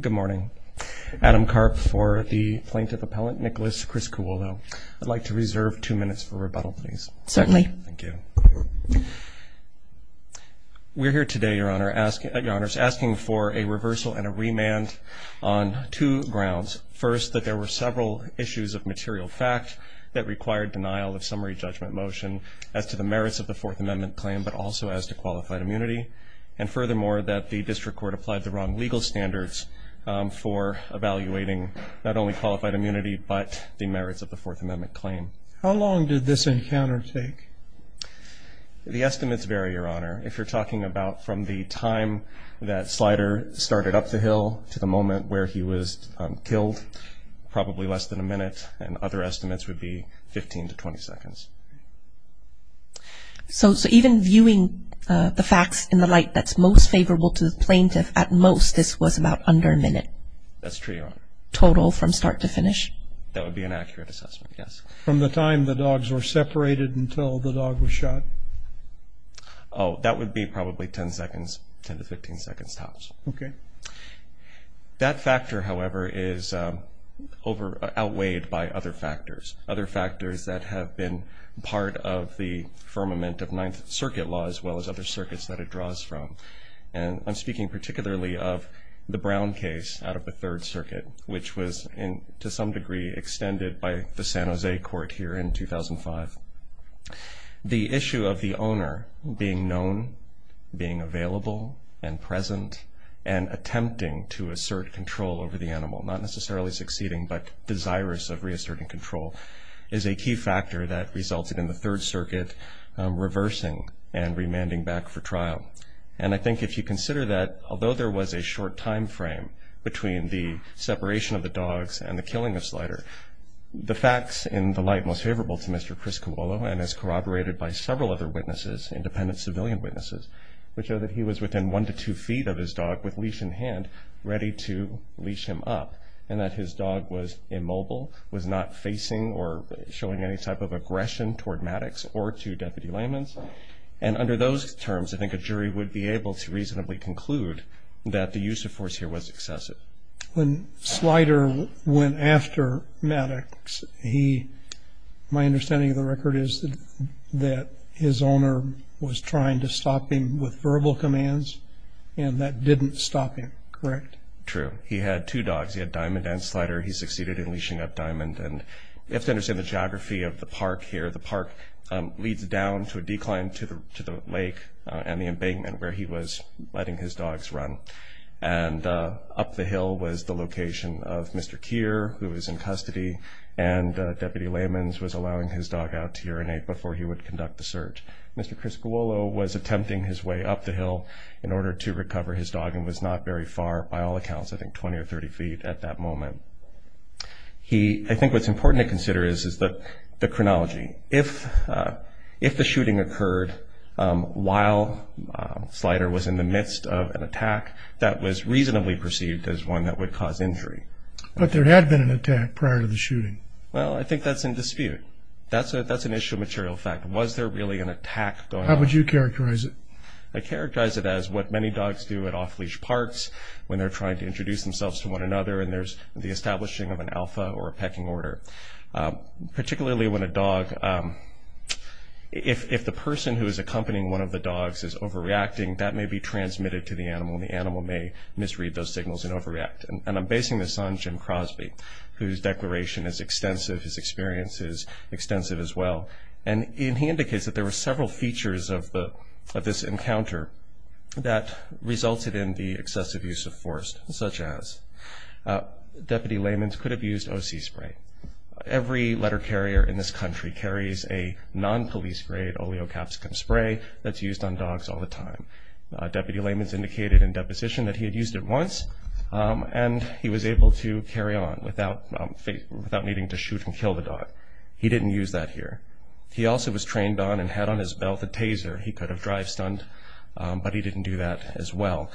Good morning. Adam Karp for the Plaintiff Appellant, Nicholas Criscuolo. I'd like to reserve two minutes for rebuttal please. Certainly. Thank you. We're here today, Your Honor, asking for a reversal and a remand on two grounds. First, that there were several issues of material fact that required denial of summary judgment motion as to the merits of the Fourth Amendment claim but also as to qualified immunity. And furthermore, that the District Court applied the wrong legal standards for evaluating not only qualified immunity but the merits of the Fourth Amendment claim. How long did this encounter take? The estimates vary, Your Honor. If you're talking about from the time that Slider started up the hill to the moment where he was killed, probably less than a minute and other estimates would be 15 to 20 seconds. So even viewing the facts in the light that's most favorable to the Plaintiff, at most this was about under a minute. That's true, Your Honor. Total from start to finish? That would be an accurate assessment, yes. From the time the dogs were separated until the dog was shot? Oh, that would be probably 10 seconds, 10 to 15 seconds tops. Okay. That factor, however, is over outweighed by other factors. Other factors that have been part of the firmament of Ninth Circuit law as well as other circuits that it draws from. And I'm speaking particularly of the Brown case out of the Third Circuit, which was, to some degree, extended by the San Jose Court here in 2005. The issue of the owner being known, being available, and present, and attempting to assert control over the animal, not necessarily succeeding but desirous of reasserting control, is a key factor that resulted in the Third Circuit trial. And I think if you consider that, although there was a short time frame between the separation of the dogs and the killing of Slider, the facts in the light most favorable to Mr. Chris Cawolo, and as corroborated by several other witnesses, independent civilian witnesses, would show that he was within one to two feet of his dog with leash in hand, ready to leash him up, and that his dog was immobile, was not facing or showing any type of aggression toward Maddox or to Deputy Layman's. And under those terms, I think a jury would be able to reasonably conclude that the use of force here was excessive. When Slider went after Maddox, my understanding of the record is that his owner was trying to stop him with verbal commands, and that didn't stop him, correct? True. He had two dogs. He had Diamond and Slider. He succeeded in leashing up leads down to a decline to the lake and the embankment where he was letting his dogs run. And up the hill was the location of Mr. Kier, who was in custody, and Deputy Layman's was allowing his dog out to urinate before he would conduct the search. Mr. Chris Cawolo was attempting his way up the hill in order to recover his dog and was not very far, by all accounts, I think 20 or 30 feet at that moment. I think what's important to consider is the chronology. If the shooting occurred while Slider was in the midst of an attack, that was reasonably perceived as one that would cause injury. But there had been an attack prior to the shooting. Well, I think that's in dispute. That's an issue of material fact. Was there really an attack going on? How would you characterize it? I'd characterize it as what many dogs do at off-leash parks when they're trying to introduce themselves to one another and there's the establishing of an alpha or a pecking order. Particularly when a dog, if the person who is accompanying one of the dogs is overreacting, that may be transmitted to the animal and the animal may misread those signals and overreact. And I'm basing this on Jim Crosby, whose declaration is extensive, his experience is extensive as well. And he indicates that there were several features of this encounter that resulted in the excessive use of force, such as Deputy Layman's could have used O.C. spray. Every letter carrier in this country carries a non-police grade oleocapsicum spray that's used on dogs all the time. Deputy Layman's indicated in deposition that he had used it once and he was able to carry on without needing to shoot and kill the dog. He didn't use that here. He also was trained on and had on his belt a taser. He could have drive-stunned, but he didn't do that as well.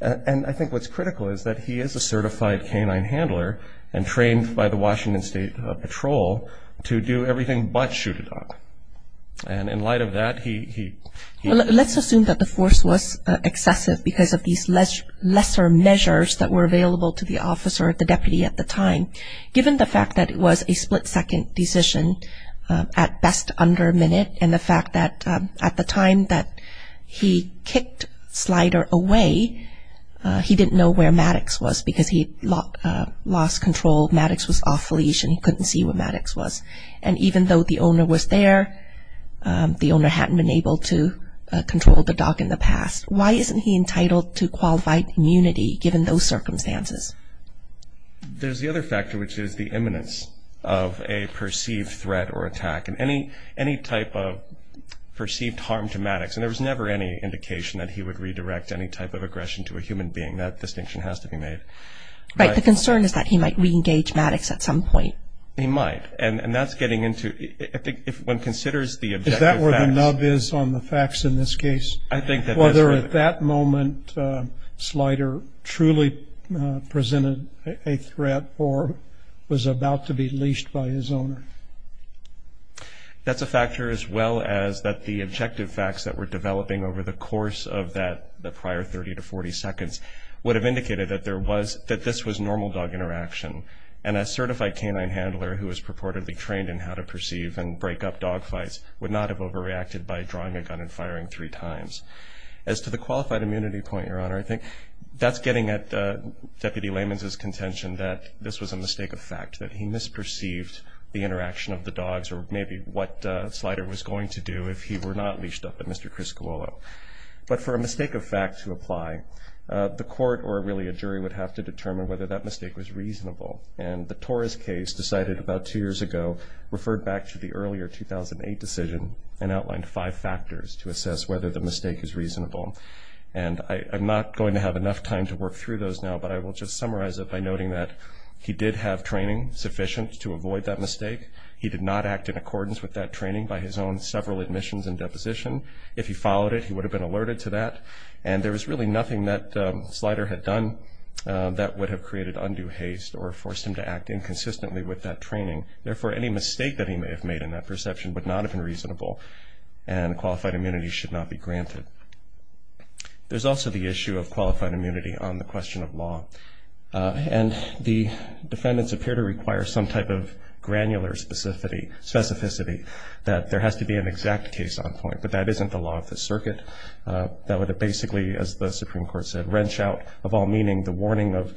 And I think what's critical is that he is a certified canine handler and trained by the Washington State Patrol to do everything but shoot a dog. And in light of that, he... Let's assume that the force was excessive because of these lesser measures that were available to the officer, the deputy at the time. Given the fact that it was a split-second decision, at best under a minute, and the fact that at the time that he kicked Slider away, he didn't know where Maddox was because he lost control. Maddox was off-leash and he couldn't see where Maddox was. And even though the owner was there, the owner hadn't been able to control the dog in the past. Why isn't he entitled to qualified immunity given those circumstances? There's the other factor, which is the imminence of a perceived threat or there was never any indication that he would redirect any type of aggression to a human being. That distinction has to be made. Right. The concern is that he might re-engage Maddox at some point. He might. And that's getting into... I think if one considers the objective facts... Is that where the nub is on the facts in this case? I think that is right. Whether at that moment Slider truly presented a threat or was about to be leashed by his owner. That's a factor as well as that the objective facts that were developing over the course of that prior 30 to 40 seconds would have indicated that this was normal dog interaction. And a certified canine handler who is purportedly trained in how to perceive and break up dog fights would not have overreacted by drawing a gun and firing three times. As to the qualified immunity point, Your Honor, I think that's getting at Deputy Layman's contention that this was a mistake of fact. That he misperceived the interaction of the dogs or maybe what Slider was going to do if he were not leashed up at Mr. Criscuolo. But for a mistake of fact to apply, the court or really a jury would have to determine whether that mistake was reasonable. And the Torres case decided about two years ago, referred back to the earlier 2008 decision and outlined five factors to assess whether the mistake is reasonable. And I'm not going to have enough time to work through those now, but I will just summarize it by noting that he did have training sufficient to avoid that mistake. He did not act in accordance with that training by his own several admissions and deposition. If he followed it, he would have been alerted to that. And there was really nothing that Slider had done that would have created undue haste or forced him to act inconsistently with that training. Therefore, any mistake that he may have made in that perception would not have been reasonable and qualified immunity should not be granted. There's also the issue of qualified immunity on the defendant's behalf. The defendants appear to require some type of granular specificity that there has to be an exact case on point, but that isn't the law of the circuit. That would have basically, as the Supreme Court said, wrench out of all meaning the warning of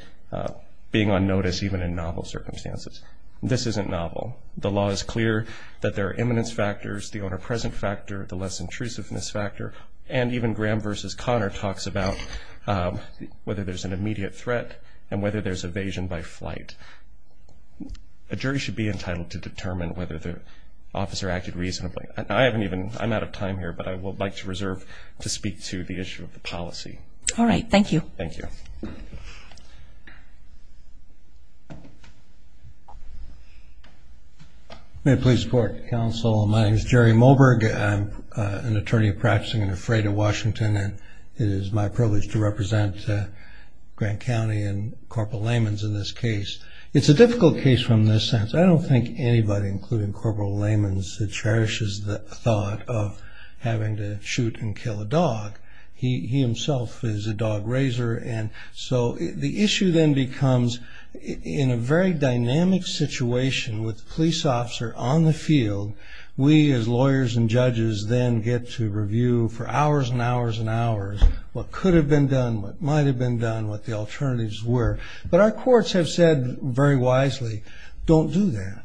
being on notice even in novel circumstances. This isn't novel. The law is clear that there are imminence factors, the owner-present factor, the less intrusiveness factor, and even Graham v. Connor talks about whether there's an immediate threat and whether there's evasion by flight. A jury should be entitled to determine whether the officer acted reasonably. I haven't even, I'm out of time here, but I would like to reserve to speak to the issue of the policy. All right, thank you. Thank you. May I please report, counsel? My name is Jerry Moberg. I'm an attorney practicing in a freight in Washington, and it is my privilege to represent Grant County and Corporal Layman's in this case. It's a difficult case from this sense. I don't think anybody, including Corporal Layman's, that cherishes the thought of having to shoot and kill a dog. He himself is a dog raiser, and so the issue then becomes, in a very dynamic situation with police officer on the field, we as lawyers and judges then get to review for hours and hours and hours what could have been done, what might have been done, what the alternatives were, but our courts have said very wisely, don't do that.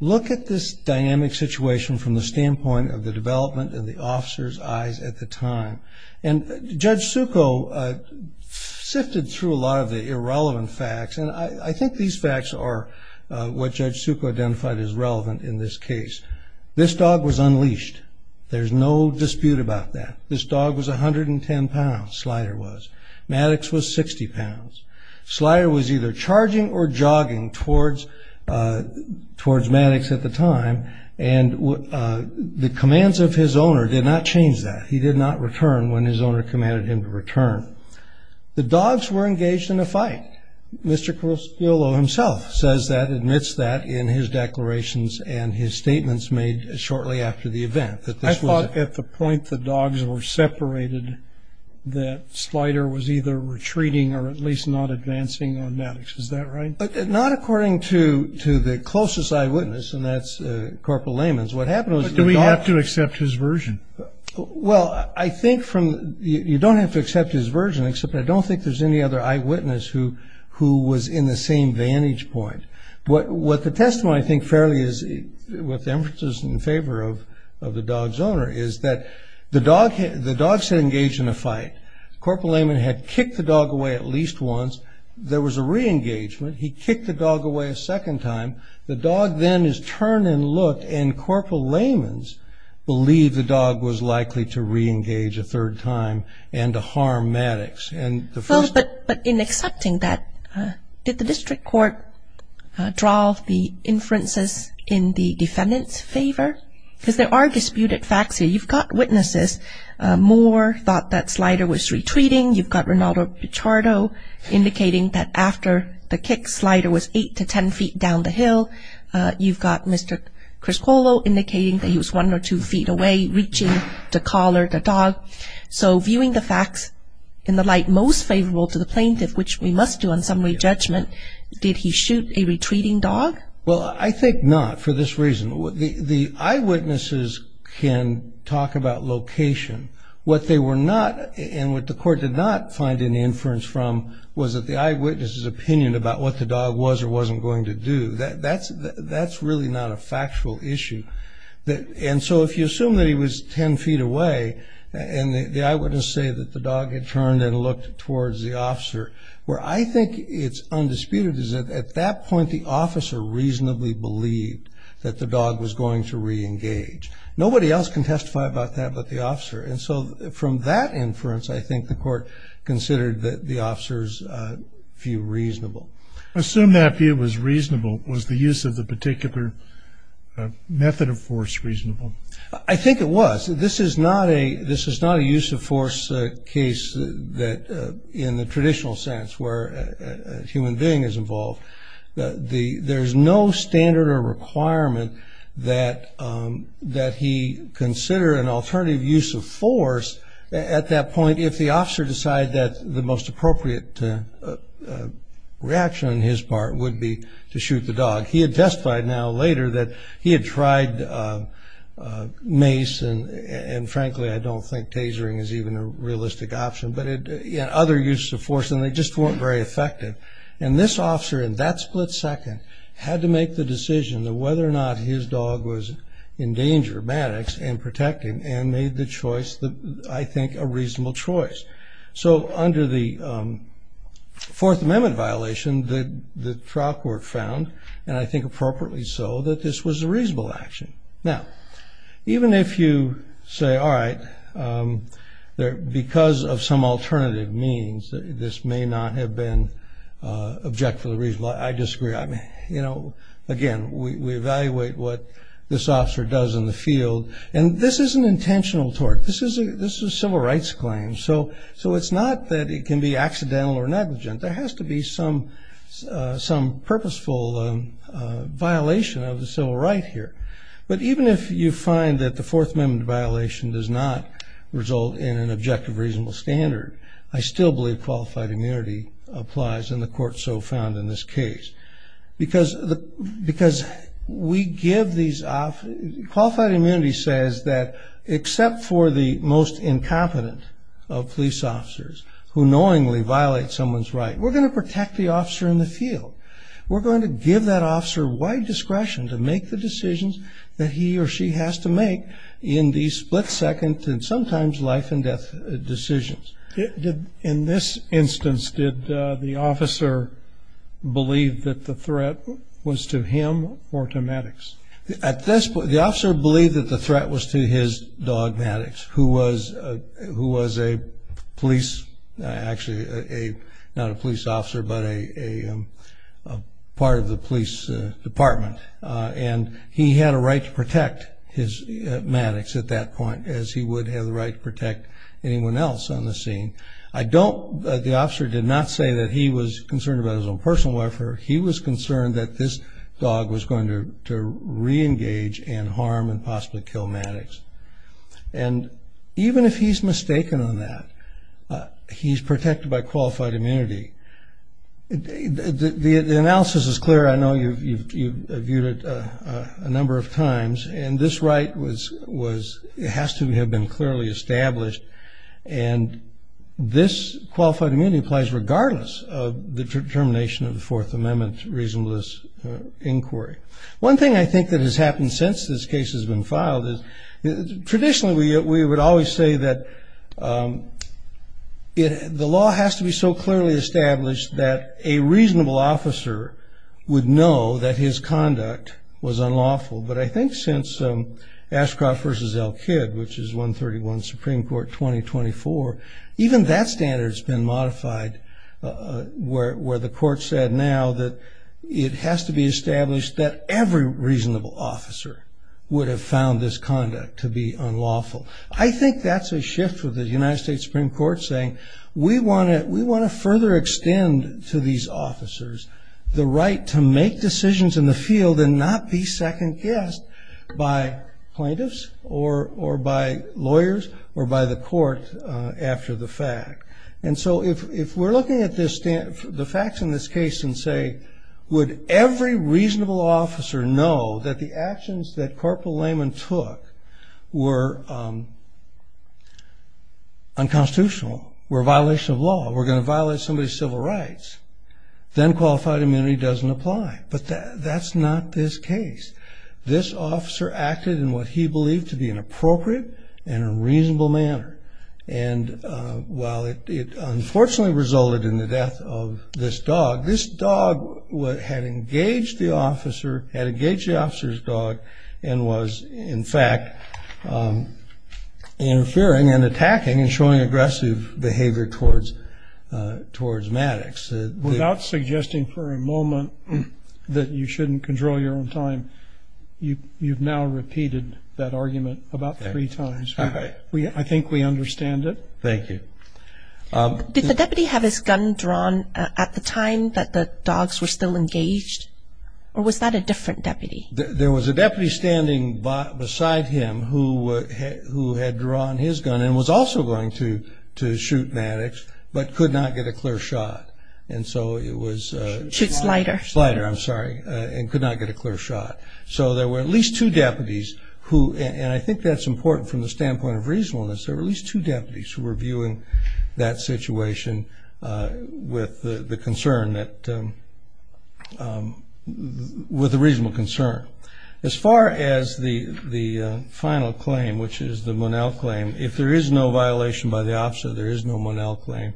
Look at this dynamic situation from the standpoint of the development in the officer's eyes at the time, and Judge Succo sifted through a lot of the irrelevant facts, and I think these facts are what Judge Succo identified as relevant in this case. This dog was Maddox was 60 pounds. Slider was either charging or jogging towards Maddox at the time, and the commands of his owner did not change that. He did not return when his owner commanded him to return. The dogs were engaged in a fight. Mr. Crustillo himself says that, admits that in his declarations and his statements made shortly after the event. I thought at the point the dogs were separated that Slider was either retreating or at least not advancing on Maddox. Is that right? Not according to to the closest eyewitness, and that's Corporal Layman's. What happened was... Do we have to accept his version? Well, I think from... you don't have to accept his version, except I don't think there's any other eyewitness who who was in the same vantage point. What the testimony I think fairly is, with the emphasis in favor of the dog's owner, is that the dog was engaged in a fight. Corporal Layman had kicked the dog away at least once. There was a re-engagement. He kicked the dog away a second time. The dog then is turned and looked, and Corporal Layman's believed the dog was likely to re-engage a third time and to harm Maddox. But in accepting that, did the District Court draw the inferences in the defendant's favor? Because there are three witnesses who are in favor of the plaintiff. You've got Mr. Moore, thought that Slider was retreating. You've got Renato Pichardo, indicating that after the kick, Slider was 8 to 10 feet down the hill. You've got Mr. Criscolo, indicating that he was 1 or 2 feet away, reaching the collar of the dog. So viewing the facts in the light most favorable to the plaintiff, which we must do on summary judgment, did he shoot a retreating dog? Well, I think not for this reason. The eyewitnesses can talk about location. What they were not, and what the court did not find any inference from, was that the eyewitness's opinion about what the dog was or wasn't going to do. That's really not a factual issue. And so if you assume that he was 10 feet away, and the eyewitnesses say that the dog had turned and looked towards the officer, where I think it's undisputed is that at that point the officer reached the collar of the dog. And so from that inference, I think the court considered that the officer's view reasonable. I think it was. This is not a use of force case that in the traditional sense where a human being is involved. There's no standard or requirement that he consider an alternative use of force at that point if the officer decided that the most appropriate reaction on his part would be to shoot the dog. He had testified now later that he had tried mace, and frankly I don't think tasering is even a realistic option, but other uses of force, and they just weren't very effective. And this officer in that split second had to make the decision of whether or not his dog was in danger, Maddox, and protect him, and made the choice that I think a reasonable choice. So under the Fourth Amendment violation, the trial court found, and I think appropriately so, that this was a reasonable action. Now, even if you say, all right, because of some alternative means, this may not have been objectively reasonable, I disagree. Again, we evaluate what this officer does in the field, and this is an intentional tort. This is a civil rights claim, so it's not that it can be accidental or negligent. There has to be some purposeful violation of the civil right here. But even if you find that the Fourth Amendment violation does not result in an objective reasonable standard, I still believe qualified immunity applies, and the court so found in this case. Because qualified immunity says that except for the most incompetent of police officers who knowingly violate someone's right, we're going to protect the officer in the field. We're going to give that officer wide discretion to make the decisions that he or she has to make in these split second and sometimes life and death decisions. In this instance, did the officer believe that the threat was to him or to Maddox? At this point, the officer believed that the threat was to his dog, Maddox, who was a police, actually not a police officer, but a part of the police department. He had a right to protect Maddox at that point as he would have the right to protect anyone else on the scene. The officer did not say that he was concerned about his own personal welfare. He was concerned that this dog was going to reengage and harm and possibly kill Maddox. Even if he's mistaken on that, he's protected by qualified immunity. The analysis is clear. I know you've viewed it a number of times. And this right has to have been clearly established. And this qualified immunity applies regardless of the determination of the Fourth Amendment reasonableness inquiry. One thing I think that has happened since this case has been filed is traditionally we would always say that the law has to be so clearly established that a reasonable officer would know that his conduct was unlawful. But I think since Ashcroft v. Elkid, which is 131 Supreme Court 2024, even that standard has been modified where the court said now that it has to be established that every reasonable officer would have found this conduct to be unlawful. I think that's a shift with the United States Supreme Court saying we want to further extend to these officers the right to make decisions in the field and not be second-guessed by plaintiffs or by lawyers or by the court after the fact. And so if we're looking at the facts in this case and say, would every reasonable officer know that the actions that Corporal Lehman took were unconstitutional, were a violation of law, were going to violate somebody's civil rights, then qualified immunity doesn't apply. But that's not this case. This officer acted in what he believed to be an appropriate and a reasonable manner. And while it unfortunately resulted in the death of this dog, this dog had engaged the officer's dog and was, in fact, interfering and attacking and showing aggressive behavior towards Maddox. Without suggesting for a moment that you shouldn't control your own time, you've now repeated that argument about three times. I think we understand it. Thank you. Did the deputy have his gun drawn at the time that the dogs were still engaged, or was that a different deputy? There was a deputy standing beside him who had drawn his gun and was also going to shoot Maddox but could not get a clear shot. And so it was ‑‑ Shoot Slider. Slider, I'm sorry, and could not get a clear shot. So there were at least two deputies who, and I think that's important from the standpoint of reasonableness, there were at least two deputies who were viewing that situation with the concern that ‑‑ with a reasonable concern. As far as the final claim, which is the Monell claim, if there is no violation by the officer, there is no Monell claim,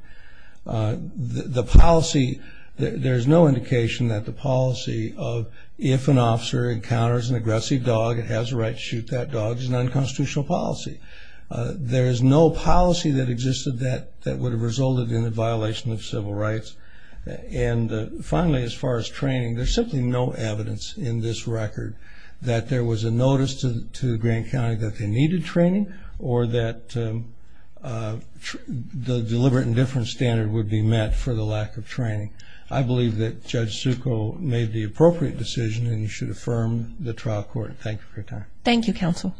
the policy, there is no indication that the policy of if an officer encounters an aggressive dog, it has the right to shoot that dog, is an unconstitutional policy. There is no policy that existed that would have resulted in a violation of civil rights. And finally, as far as training, there's simply no evidence in this record that there was a notice to Grand County that they needed training or that the deliberate indifference standard would be met for the lack of training. I believe that Judge Zucco made the appropriate decision and you should affirm the trial court. Thank you for your time. Thank you, counsel.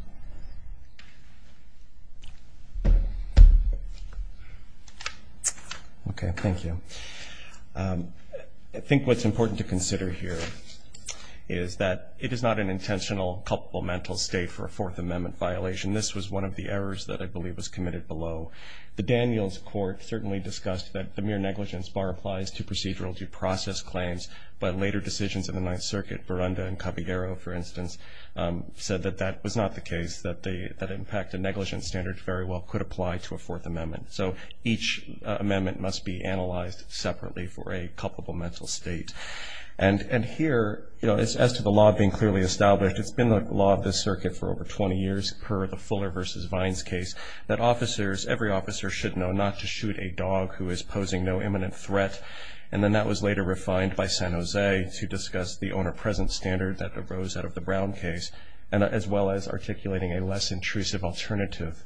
Okay, thank you. I think what's important to consider here is that it is not an intentional, culpable mental state for a Fourth Amendment violation. This was one of the errors that I believe was committed below. The Daniels Court certainly discussed that the mere negligence bar applies to procedural due process claims, but later decisions in the Ninth Circuit, Verunda and Caballero, for instance, said that that was not the case, that in fact a negligence standard very well could apply to a Fourth Amendment. So each amendment must be analyzed separately for a culpable mental state. And here, as to the law being clearly established, it's been the law of this circuit for over 20 years per the Fuller v. Vines case that officers, every officer should know not to shoot a dog who is posing no imminent threat. And then that was later refined by San Jose to discuss the owner-present standard that arose out of the Brown case, as well as articulating a less intrusive alternative,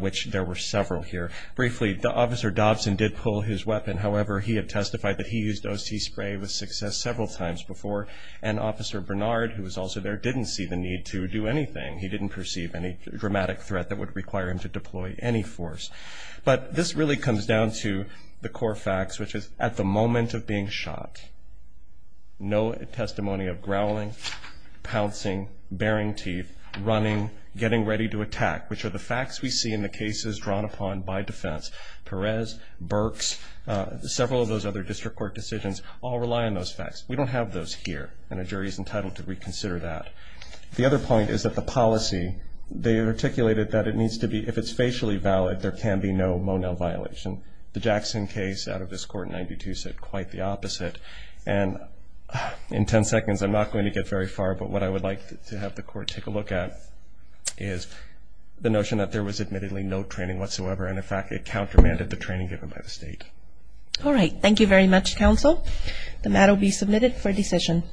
which there were several here. Briefly, Officer Dobson did pull his weapon. However, he had testified that he used O.C. spray with success several times before, and Officer Bernard, who was also there, didn't see the need to do anything. He didn't perceive any dramatic threat that would require him to deploy any force. But this really comes down to the core facts, which is at the moment of being shot, no testimony of growling, pouncing, baring teeth, running, getting ready to attack, which are the facts we see in the cases drawn upon by defense. Perez, Burks, several of those other district court decisions all rely on those facts. We don't have those here, and a jury is entitled to reconsider that. The other point is that the policy, they articulated that it needs to be, if it's facially valid, there can be no Monell violation. The Jackson case out of this Court in 92 said quite the opposite. And in 10 seconds, I'm not going to get very far, but what I would like to have the Court take a look at is the notion that there was admittedly no training whatsoever, and, in fact, it countermanded the training given by the State. All right. Thank you very much, Counsel. The matter will be submitted for decision.